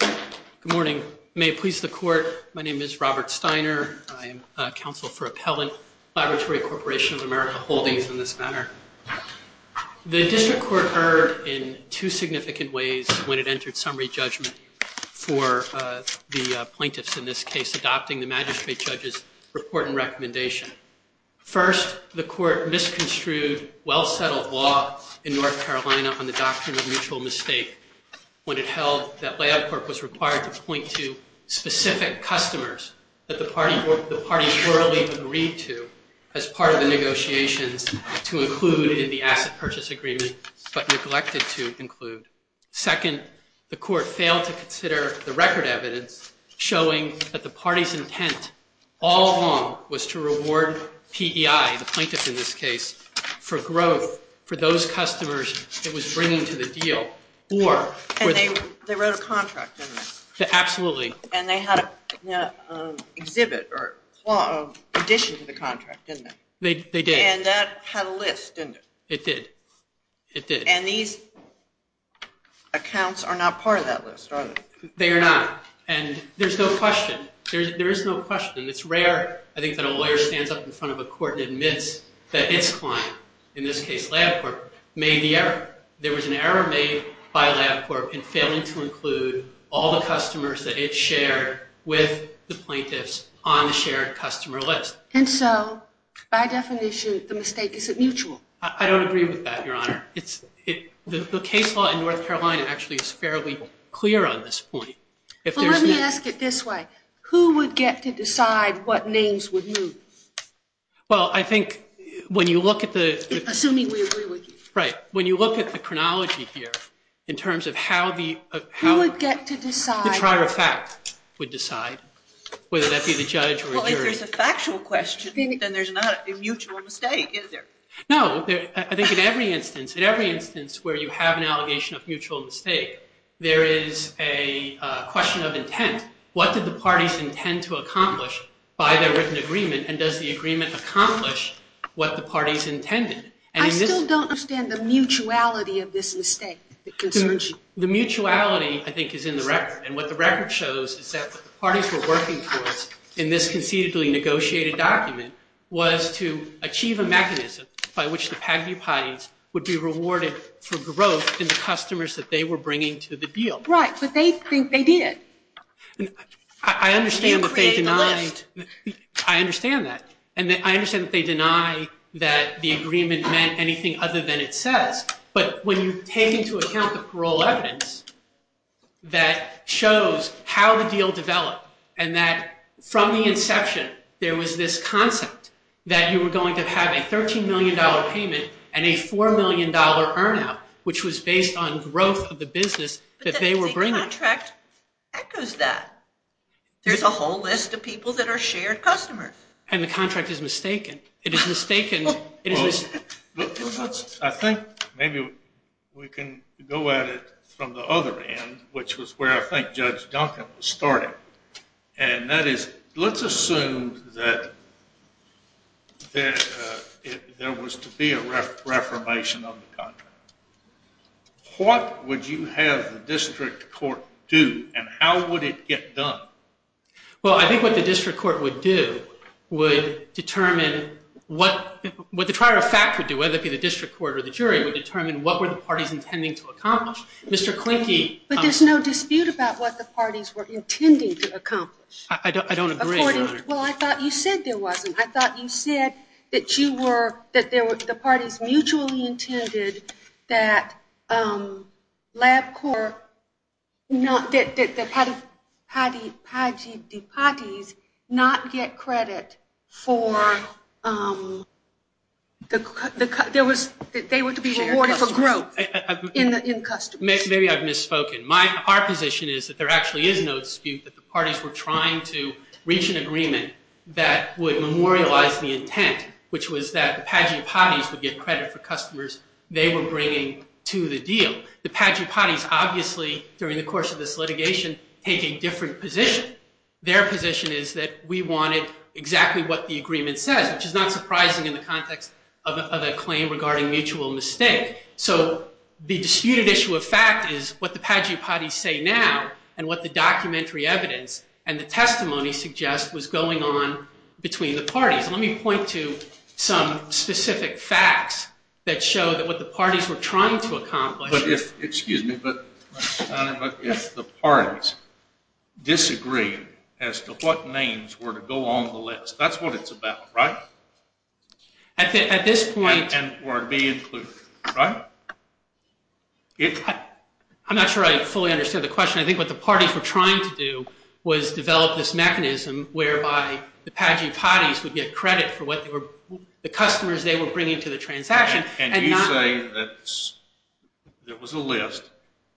Good morning. May it please the Court, my name is Robert Steiner. I am counsel for Appellant, Laboratory Corporation of America Holdings in this matter. The district court erred in two significant ways when it entered summary judgment for the plaintiffs in this case adopting the magistrate judge's report and recommendation. First, the court misconstrued well-settled law in North Carolina on the doctrine of mutual mistake when it held that LabCorp was required to point to specific customers that the party plurally agreed to as part of the negotiations to include in the asset purchase agreement but neglected to include. Second, the court failed to consider the record evidence showing that the party's intent all along was to reward PEI, the plaintiff in this case, for growth for those customers it was bringing to the deal And they wrote a contract, didn't they? Absolutely. And they had an addition to the contract, didn't they? They did. And that had a list, didn't it? It did. And these accounts are not part of that list, are they? They are not. And there's no question. There is no question. And it's rare, I think, that a lawyer stands up in front of a court and admits that its client, in this case LabCorp, made the error. There was an error made by LabCorp in failing to include all the customers that it shared with the plaintiffs on the shared customer list. And so, by definition, the mistake is at mutual. I don't agree with that, Your Honor. The case law in North Carolina actually is fairly clear on this point. Well, let me ask it this way. Who would get to decide what names would move? Well, I think when you look at the… Assuming we agree with you. Right. When you look at the chronology here, in terms of how the… Who would get to decide? The trier of fact would decide, whether that be the judge or jury. Well, if there's a factual question, then there's not a mutual mistake, is there? No. I think in every instance, in every instance where you have an allegation of mutual mistake, there is a question of intent. What did the parties intend to accomplish by their written agreement? And does the agreement accomplish what the parties intended? I still don't understand the mutuality of this mistake that concerns you. The mutuality, I think, is in the record. And what the record shows is that the parties were working towards, in this concededly negotiated document, was to achieve a mechanism by which the PAGDU parties would be rewarded for growth in the customers that they were bringing to the deal. Right. But they think they did. I understand that they denied… You create the list. I understand that. And I understand that they deny that the agreement meant anything other than it says. But when you take into account the parole evidence that shows how the deal developed and that from the inception there was this concept that you were going to have a $13 million payment and a $4 million earn out, which was based on growth of the business that they were bringing. But the contract echoes that. There's a whole list of people that are shared customers. And the contract is mistaken. It is mistaken. I think maybe we can go at it from the other end, which was where I think Judge Duncan started. And that is, let's assume that there was to be a reformation of the contract. What would you have the district court do? And how would it get done? Well, I think what the district court would do would determine what the trial of fact would do, whether it be the district court or the jury, would determine what were the parties intending to accomplish. Mr. Klinke… But there's no dispute about what the parties were intending to accomplish. I don't agree, Your Honor. Well, I thought you said there wasn't. I thought you said that the parties mutually intended that LabCorp, that the Paddy's not get credit for the cut. They were to be rewarded for growth in customers. Maybe I've misspoken. Our position is that there actually is no dispute that the parties were trying to reach an agreement that would memorialize the intent, which was that the Paddy's would get credit for customers they were bringing to the deal. The Paddy's obviously, during the course of this litigation, taking different position. Their position is that we wanted exactly what the agreement says, which is not surprising in the context of a claim regarding mutual mistake. So the disputed issue of fact is what the Paddy's say now and what the documentary evidence and the testimony suggest was going on between the parties. Let me point to some specific facts that show that what the parties were trying to accomplish… Excuse me, but if the parties disagree as to what names were to go on the list, that's what it's about, right? At this point… And were to be included, right? I'm not sure I fully understand the question. I think what the parties were trying to do was develop this mechanism whereby the Paddy's would get credit for the customers they were bringing to the transaction. And you say that there was a list,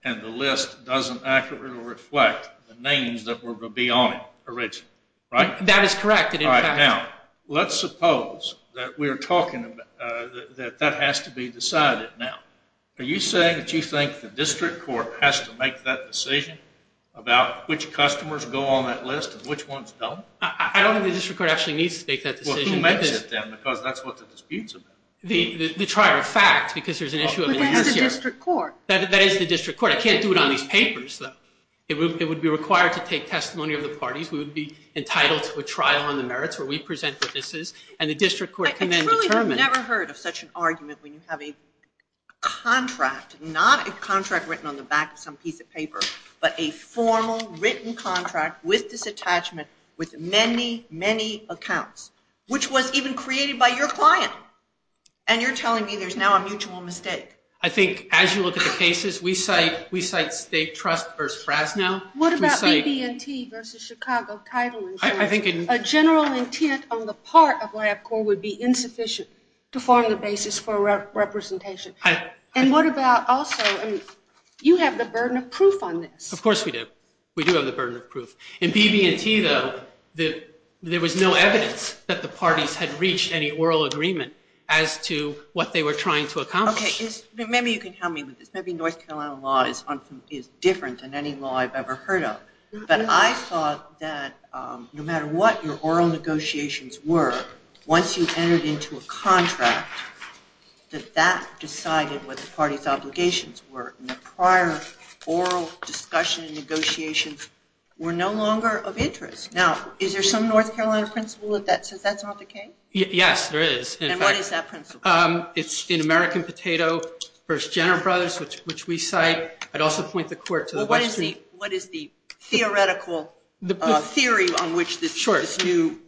and the list doesn't accurately reflect the names that were to be on it originally, right? That is correct. Now, let's suppose that that has to be decided now. Are you saying that you think the district court has to make that decision about which customers go on that list and which ones don't? I don't think the district court actually needs to make that decision. Well, who makes it then, because that's what the dispute's about. The trial of fact, because there's an issue of… But that's the district court. That is the district court. I can't do it on these papers, though. It would be required to take testimony of the parties. We would be entitled to a trial on the merits where we present what this is, and the district court can then determine… Not a contract written on the back of some piece of paper, but a formal written contract with this attachment with many, many accounts, which was even created by your client. And you're telling me there's now a mutual mistake. I think as you look at the cases, we cite State Trust v. Fresno. What about BB&T v. Chicago Title Insurance? A general intent on the part of LabCorp would be insufficient to form the basis for representation. And what about also, you have the burden of proof on this. Of course we do. We do have the burden of proof. In BB&T, though, there was no evidence that the parties had reached any oral agreement as to what they were trying to accomplish. Maybe you can help me with this. Maybe North Carolina law is different than any law I've ever heard of. But I thought that no matter what your oral negotiations were, once you entered into a contract, that that decided what the party's obligations were. And the prior oral discussion and negotiations were no longer of interest. Now, is there some North Carolina principle that says that's not the case? Yes, there is. And what is that principle? It's in American Potato v. General Brothers, which we cite. I'd also point the court to the West Street. What is the theoretical theory on which this new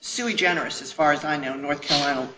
sui generis, as far as I know, North Carolina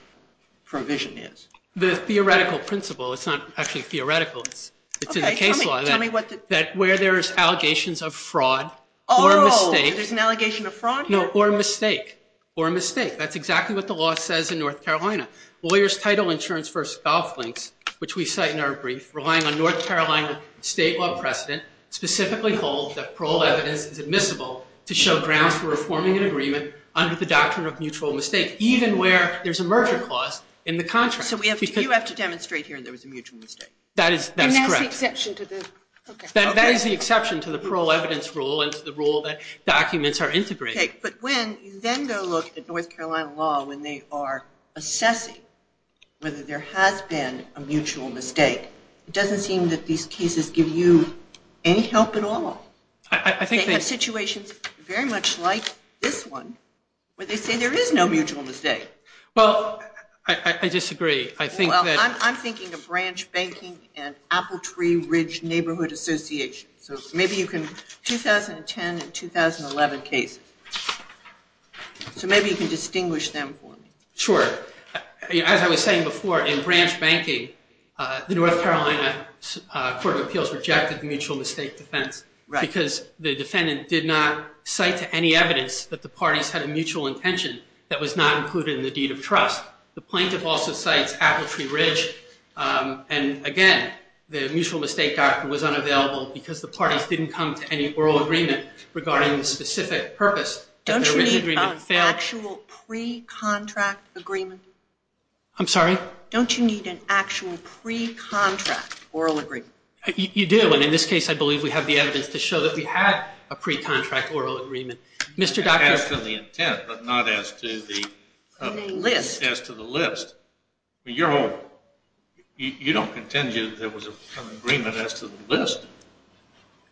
provision is? The theoretical principle. It's not actually theoretical. It's in the case law. That where there's allegations of fraud or a mistake. Oh, there's an allegation of fraud? No, or a mistake. Or a mistake. That's exactly what the law says in North Carolina. Lawyer's Title Insurance v. Golf Links, which we cite in our brief, relying on North Carolina state law precedent, specifically holds that parole evidence is admissible to show grounds for reforming an agreement under the doctrine of mutual mistake, even where there's a merger clause in the contract. So you have to demonstrate here there was a mutual mistake? That is correct. And that's the exception to the? That is the exception to the parole evidence rule and to the rule that documents are integrated. But when you then go look at North Carolina law when they are assessing whether there has been a mutual mistake, it doesn't seem that these cases give you any help at all. They have situations very much like this one where they say there is no mutual mistake. Well, I disagree. I think that. Well, I'm thinking of Branch Banking and Apple Tree Ridge Neighborhood Association. So maybe you can, 2010 and 2011 cases. So maybe you can distinguish them for me. Sure. As I was saying before, in Branch Banking, the North Carolina Court of Appeals rejected the mutual mistake defense because the defendant did not cite to any evidence that the parties had a mutual intention that was not included in the deed of trust. The plaintiff also cites Apple Tree Ridge. And again, the mutual mistake doctrine was unavailable because the parties didn't come to any oral agreement regarding the specific purpose. Don't you need an actual pre-contract agreement? I'm sorry? Don't you need an actual pre-contract oral agreement? You do. And in this case, I believe we have the evidence to show that we had a pre-contract oral agreement. As to the intent, but not as to the list. As to the list. You don't contend there was an agreement as to the list?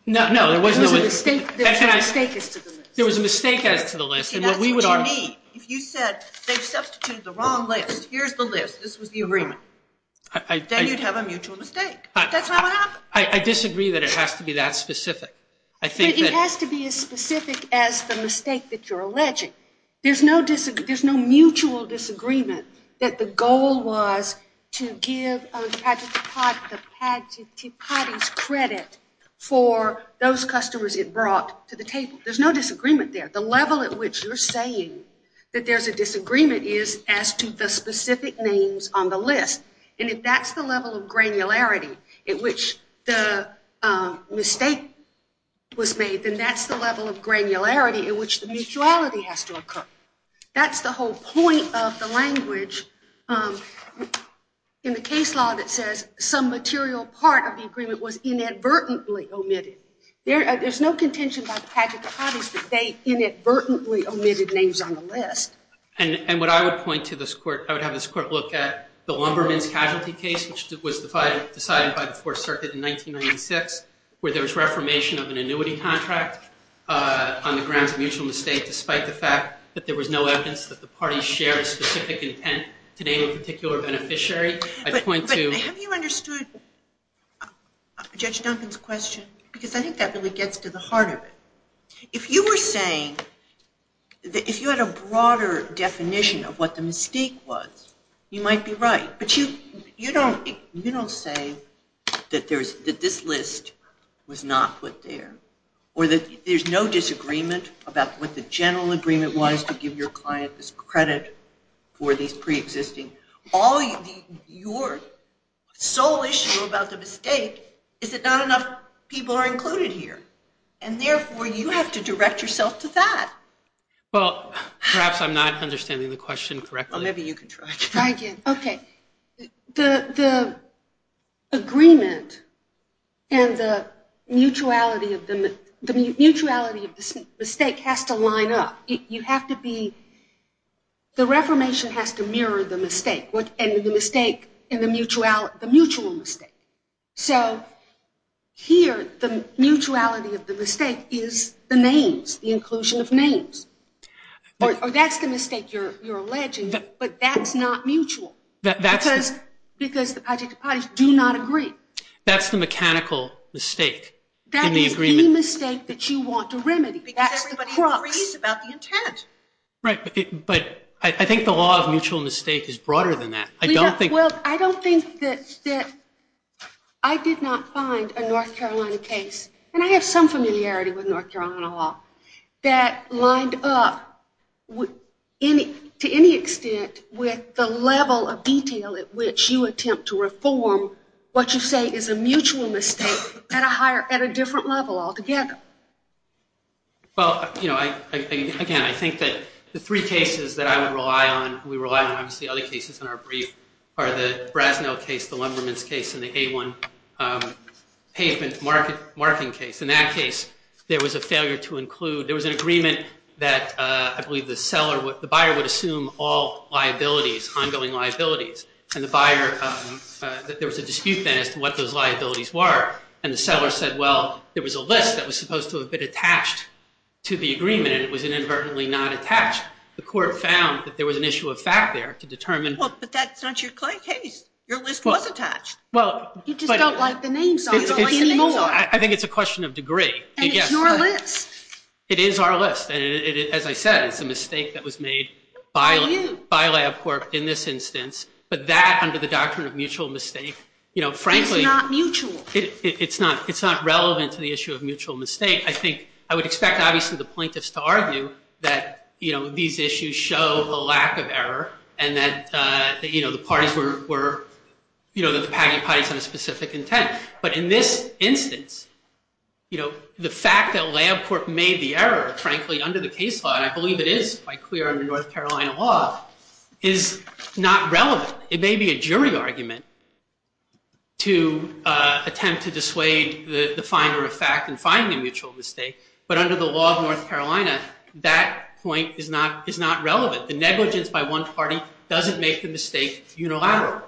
No. There was a mistake as to the list. There was a mistake as to the list. That's what you need. If you said they've substituted the wrong list, here's the list, this was the agreement. Then you'd have a mutual mistake. That's not what happened. I disagree that it has to be that specific. It has to be as specific as the mistake that you're alleging. There's no mutual disagreement that the goal was to give the parties credit for those customers it brought to the table. There's no disagreement there. The level at which you're saying that there's a disagreement is as to the specific names on the list. And if that's the level of granularity at which the mistake was made, then that's the level of granularity at which the mutuality has to occur. That's the whole point of the language in the case law that says some material part of the agreement was inadvertently omitted. There's no contention by the tragic parties that they inadvertently omitted names on the list. And what I would point to this court, I would have this court look at the Lumberman's casualty case, which was decided by the Fourth Circuit in 1996, where there was reformation of an annuity contract on the grounds of mutual mistake despite the fact that there was no evidence that the parties shared a specific intent to name a particular beneficiary. Have you understood Judge Duncan's question? Because I think that really gets to the heart of it. If you were saying, if you had a broader definition of what the mistake was, you might be right. But you don't say that this list was not put there or that there's no disagreement about what the general agreement was to give your client this credit for these preexisting. Your sole issue about the mistake is that not enough people are included here. And therefore, you have to direct yourself to that. Well, perhaps I'm not understanding the question correctly. Well, maybe you can try again. Okay. The agreement and the mutuality of the mistake has to line up. You have to be, the reformation has to mirror the mistake and the mutual mistake. So here, the mutuality of the mistake is the names, the inclusion of names. Or that's the mistake you're alleging, but that's not mutual. Because the Padishka parties do not agree. That's the mechanical mistake in the agreement. That is the mistake that you want to remedy. Because everybody agrees about the intent. Right. But I think the law of mutual mistake is broader than that. Well, I don't think that I did not find a North Carolina case, and I have some familiarity with North Carolina law, that lined up to any extent with the level of detail at which you attempt to reform what you say is a mutual mistake at a different level altogether. Well, again, I think that the three cases that I would rely on, we rely on obviously other cases in our brief, are the Brasnell case, the Lemberman's case, and the A1 pavement marking case. In that case, there was a failure to include, there was an agreement that I believe the buyer would assume all liabilities, ongoing liabilities. And the buyer, there was a dispute then as to what those liabilities were. And the seller said, well, there was a list that was supposed to have been attached to the agreement, and it was inadvertently not attached. The court found that there was an issue of fact there to determine. Well, but that's not your case. Your list was attached. You just don't like the names on it. I think it's a question of degree. And it's your list. It is our list. And as I said, it's a mistake that was made by LabCorp in this instance. But that, under the doctrine of mutual mistake, frankly, It's not mutual. It's not relevant to the issue of mutual mistake. I think, I would expect, obviously, the plaintiffs to argue that, you know, these issues show a lack of error and that, you know, the parties were, you know, that the packing parties had a specific intent. But in this instance, you know, the fact that LabCorp made the error, frankly, under the case law, and I believe it is by clear under North Carolina law, is not relevant. It may be a jury argument to attempt to dissuade the finder of fact and find the mutual mistake. But under the law of North Carolina, that point is not relevant. The negligence by one party doesn't make the mistake unilateral.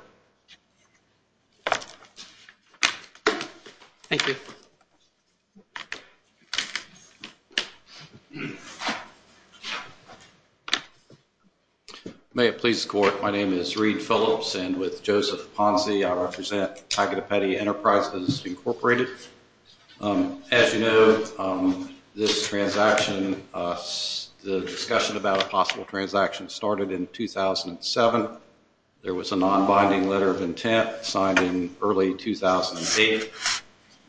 Thank you. May it please the court. My name is Reed Phillips. And with Joseph Ponzi, I represent Agatepetti Enterprises Incorporated. As you know, this transaction, the discussion about a possible transaction started in 2007. There was a non-binding letter of intent signed in early 2008.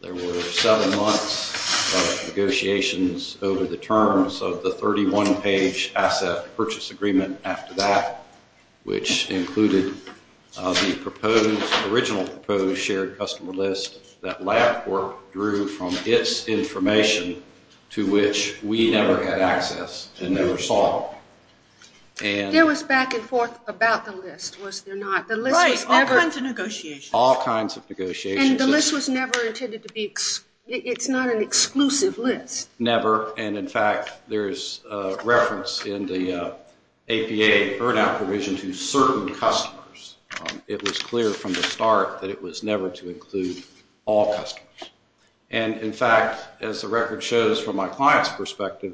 There were seven months of negotiations over the terms of the 31-page asset purchase agreement after that, which included the original proposed shared customer list that LabCorp drew from its information, to which we never had access and never saw. There was back and forth about the list, was there not? Right, all kinds of negotiations. All kinds of negotiations. And the list was never intended to be, it's not an exclusive list. Never. And, in fact, there is reference in the APA earn-out provision to certain customers. It was clear from the start that it was never to include all customers. And, in fact, as the record shows from my client's perspective,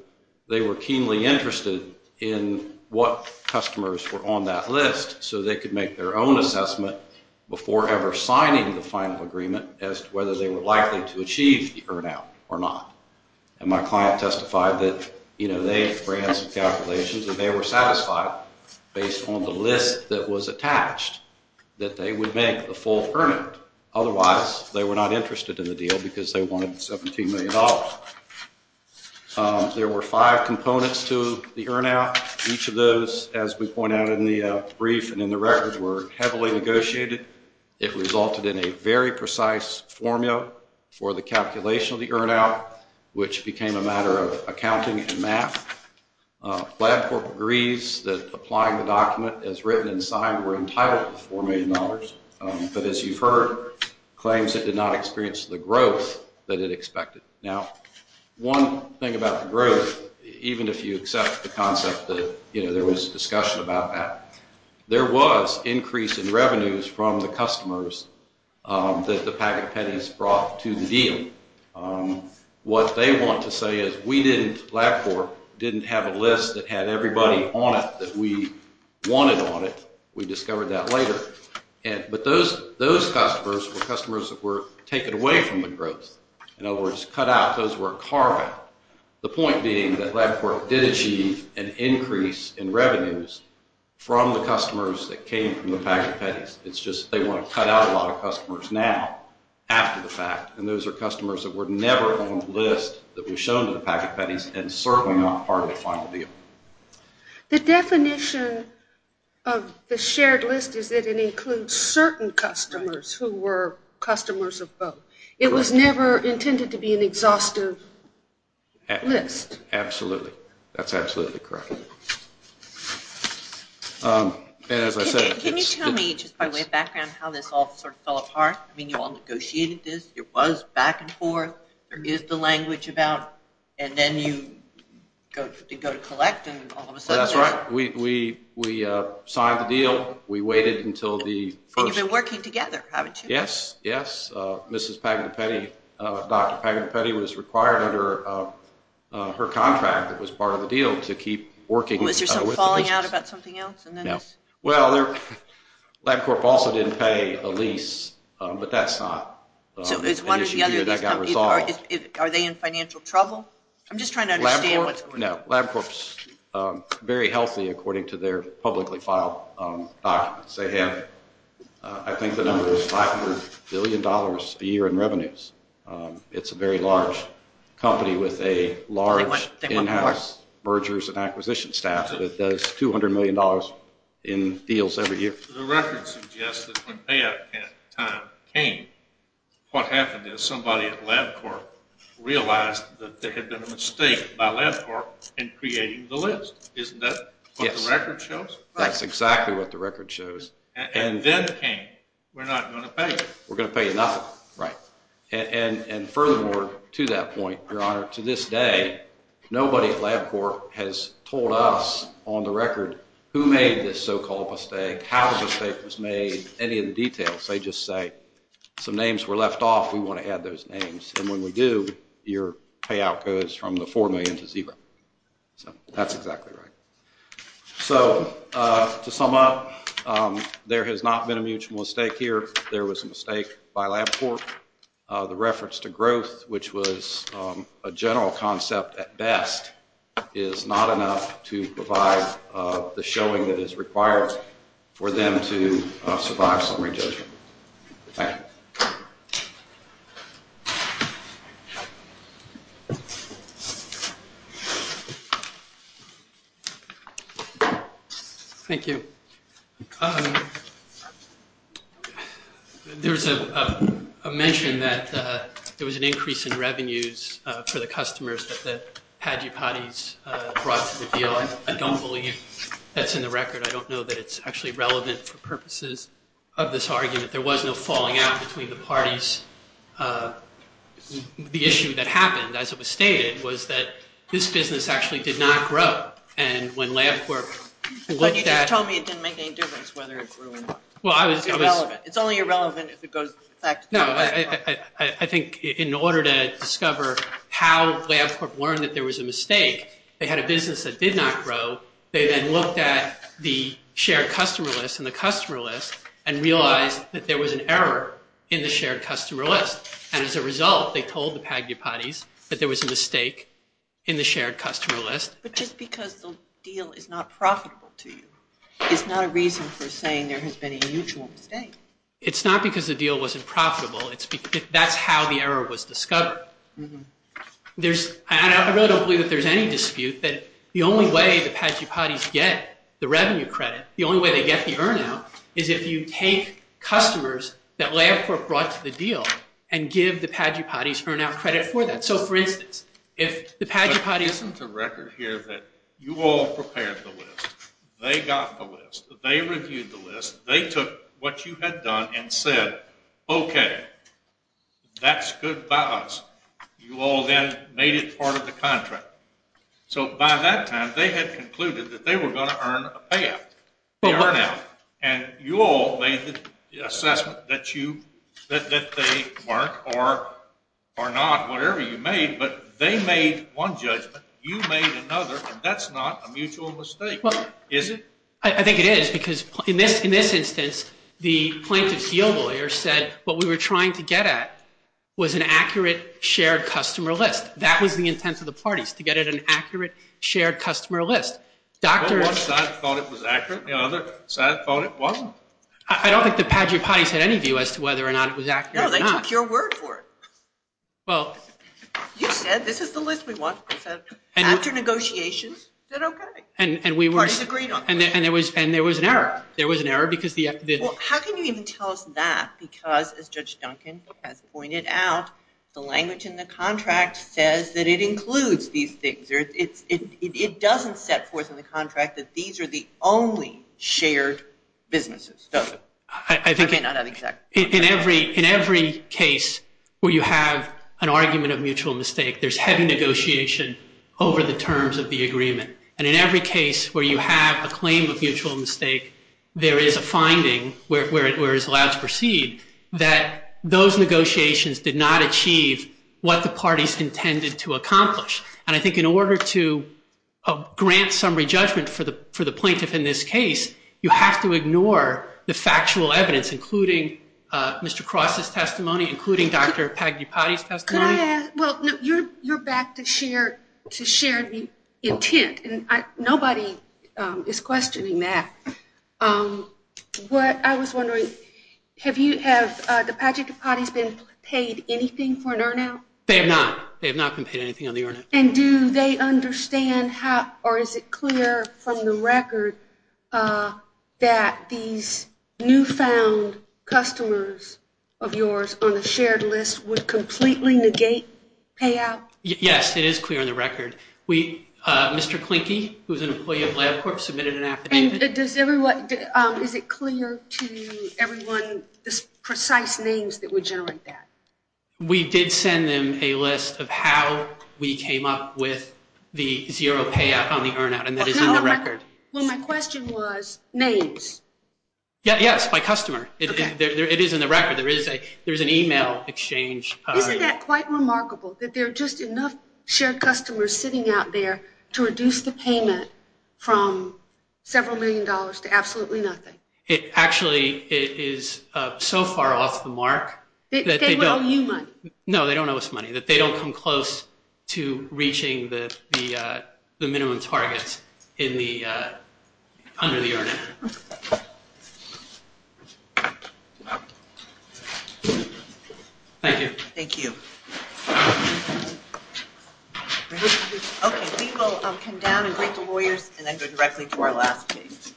they were keenly interested in what customers were on that list so they could make their own assessment before ever signing the final agreement as to whether they were likely to achieve the earn-out or not. And my client testified that, you know, they ran some calculations and they were satisfied, based on the list that was attached, that they would make the full earn-out. Otherwise, they were not interested in the deal because they wanted $17 million. There were five components to the earn-out. Each of those, as we point out in the brief and in the record, were heavily negotiated. It resulted in a very precise formula for the calculation of the earn-out. Which became a matter of accounting and math. LabCorp agrees that applying the document as written and signed were entitled to $4 million. But, as you've heard, claims it did not experience the growth that it expected. Now, one thing about the growth, even if you accept the concept that, you know, there was discussion about that, there was increase in revenues from the customers that the packet pennies brought to the deal. What they want to say is, we didn't, LabCorp, didn't have a list that had everybody on it that we wanted on it. We discovered that later. But those customers were customers that were taken away from the growth. In other words, cut out. Those were carved out. The point being that LabCorp did achieve an increase in revenues from the customers that came from the packet pennies. It's just they want to cut out a lot of customers now, after the fact. And those are customers that were never on the list that was shown to the packet pennies and certainly not part of the final deal. The definition of the shared list is that it includes certain customers who were customers of both. It was never intended to be an exhaustive list. Absolutely. That's absolutely correct. Can you tell me, just by way of background, how this all sort of fell apart? I mean, you all negotiated this. It was back and forth. There is the language about, and then you go to collect and all of a sudden... That's right. We signed the deal. We waited until the first... And you've been working together, haven't you? Yes, yes. Mrs. Packet Penny, Dr. Packet Penny was required under her contract that was part of the deal to keep working with the business. Was there some falling out about something else? No. Well, LabCorp also didn't pay a lease, but that's not an issue here that got resolved. Are they in financial trouble? I'm just trying to understand what's going on. No. LabCorp's very healthy according to their publicly filed documents. They have, I think the number is $500 billion a year in revenues. It's a very large company with a large in-house mergers and acquisitions staff that does $200 million in deals every year. The record suggests that when payout time came, what happened is somebody at LabCorp realized that there had been a mistake by LabCorp in creating the list. Isn't that what the record shows? That's exactly what the record shows. And then came, we're not going to pay. We're going to pay nothing. Right. And furthermore, to that point, Your Honor, to this day, nobody at LabCorp has told us on the record who made this so-called mistake, how the mistake was made, any of the details. They just say some names were left off, we want to add those names. And when we do, your payout goes from the $4 million to zero. That's exactly right. So to sum up, there has not been a mutual mistake here. There was a mistake by LabCorp. The reference to growth, which was a general concept at best, is not enough to provide the showing that is required for them to survive summary judgment. Thank you. Thank you. There's a mention that there was an increase in revenues for the customers that the Paddy Parties brought to the deal. I don't believe that's in the record. I don't know that it's actually relevant for purposes of this argument. There was no falling out between the parties. The issue that happened, as it was stated, was that this business actually did not grow. And when LabCorp looked at- But you just told me it didn't make any difference whether it grew or not. Well, I was- It's only irrelevant if it goes back to- No, I think in order to discover how LabCorp learned that there was a mistake, they had a business that did not grow. They then looked at the shared customer list and the customer list and realized that there was an error in the shared customer list. And as a result, they told the Paddy Parties that there was a mistake in the shared customer list. But just because the deal is not profitable to you is not a reason for saying there has been a mutual mistake. It's not because the deal wasn't profitable. That's how the error was discovered. I really don't believe that there's any dispute that the only way the Paddy Parties get the revenue credit, the only way they get the earn out, is if you take customers that LabCorp brought to the deal and give the Paddy Parties earn out credit for that. So, for instance, if the Paddy Parties- I'm putting to record here that you all prepared the list. They got the list. They reviewed the list. They took what you had done and said, okay, that's good by us. You all then made it part of the contract. So by that time, they had concluded that they were going to earn a payout, the earn out. And you all made the assessment that they weren't or not, whatever you made, but they made one judgment. You made another, and that's not a mutual mistake, is it? I think it is because in this instance, the plaintiff's deal lawyer said what we were trying to get at was an accurate shared customer list. That was the intent of the parties, to get at an accurate shared customer list. One side thought it was accurate. The other side thought it wasn't. I don't think the Paddy Parties had any view as to whether or not it was accurate or not. No, they took your word for it. You said this is the list we want. After negotiations, it's okay. The parties agreed on it. And there was an error. How can you even tell us that because, as Judge Duncan has pointed out, the language in the contract says that it includes these things. It doesn't set forth in the contract that these are the only shared businesses, does it? In every case where you have an argument of mutual mistake, there's heavy negotiation over the terms of the agreement. And in every case where you have a claim of mutual mistake, there is a finding, where it's allowed to proceed, that those negotiations did not achieve what the parties intended to accomplish. And I think in order to grant summary judgment for the plaintiff in this case, you have to ignore the factual evidence, including Mr. Cross's testimony, including Dr. Paddy Parties' testimony. Well, you're back to share the intent, and nobody is questioning that. I was wondering, have the Paddy Parties been paid anything for an earn-out? They have not. They have not been paid anything on the earn-out. And do they understand how, or is it clear from the record, that these newfound customers of yours on the shared list would completely negate payout? Yes, it is clear on the record. Mr. Klinke, who is an employee of LabCorp, submitted an affidavit. Is it clear to everyone the precise names that would generate that? We did send them a list of how we came up with the zero payout on the earn-out, and that is in the record. Well, my question was names. Yes, by customer. It is in the record. There is an e-mail exchange. Isn't that quite remarkable, that there are just enough shared customers sitting out there to reduce the payment from several million dollars to absolutely nothing? It actually is so far off the mark. They don't owe you money? No, they don't owe us money. They don't come close to reaching the minimum targets under the earn-out. Thank you. Thank you. Okay, we will come down and greet the lawyers and then go directly to our last case.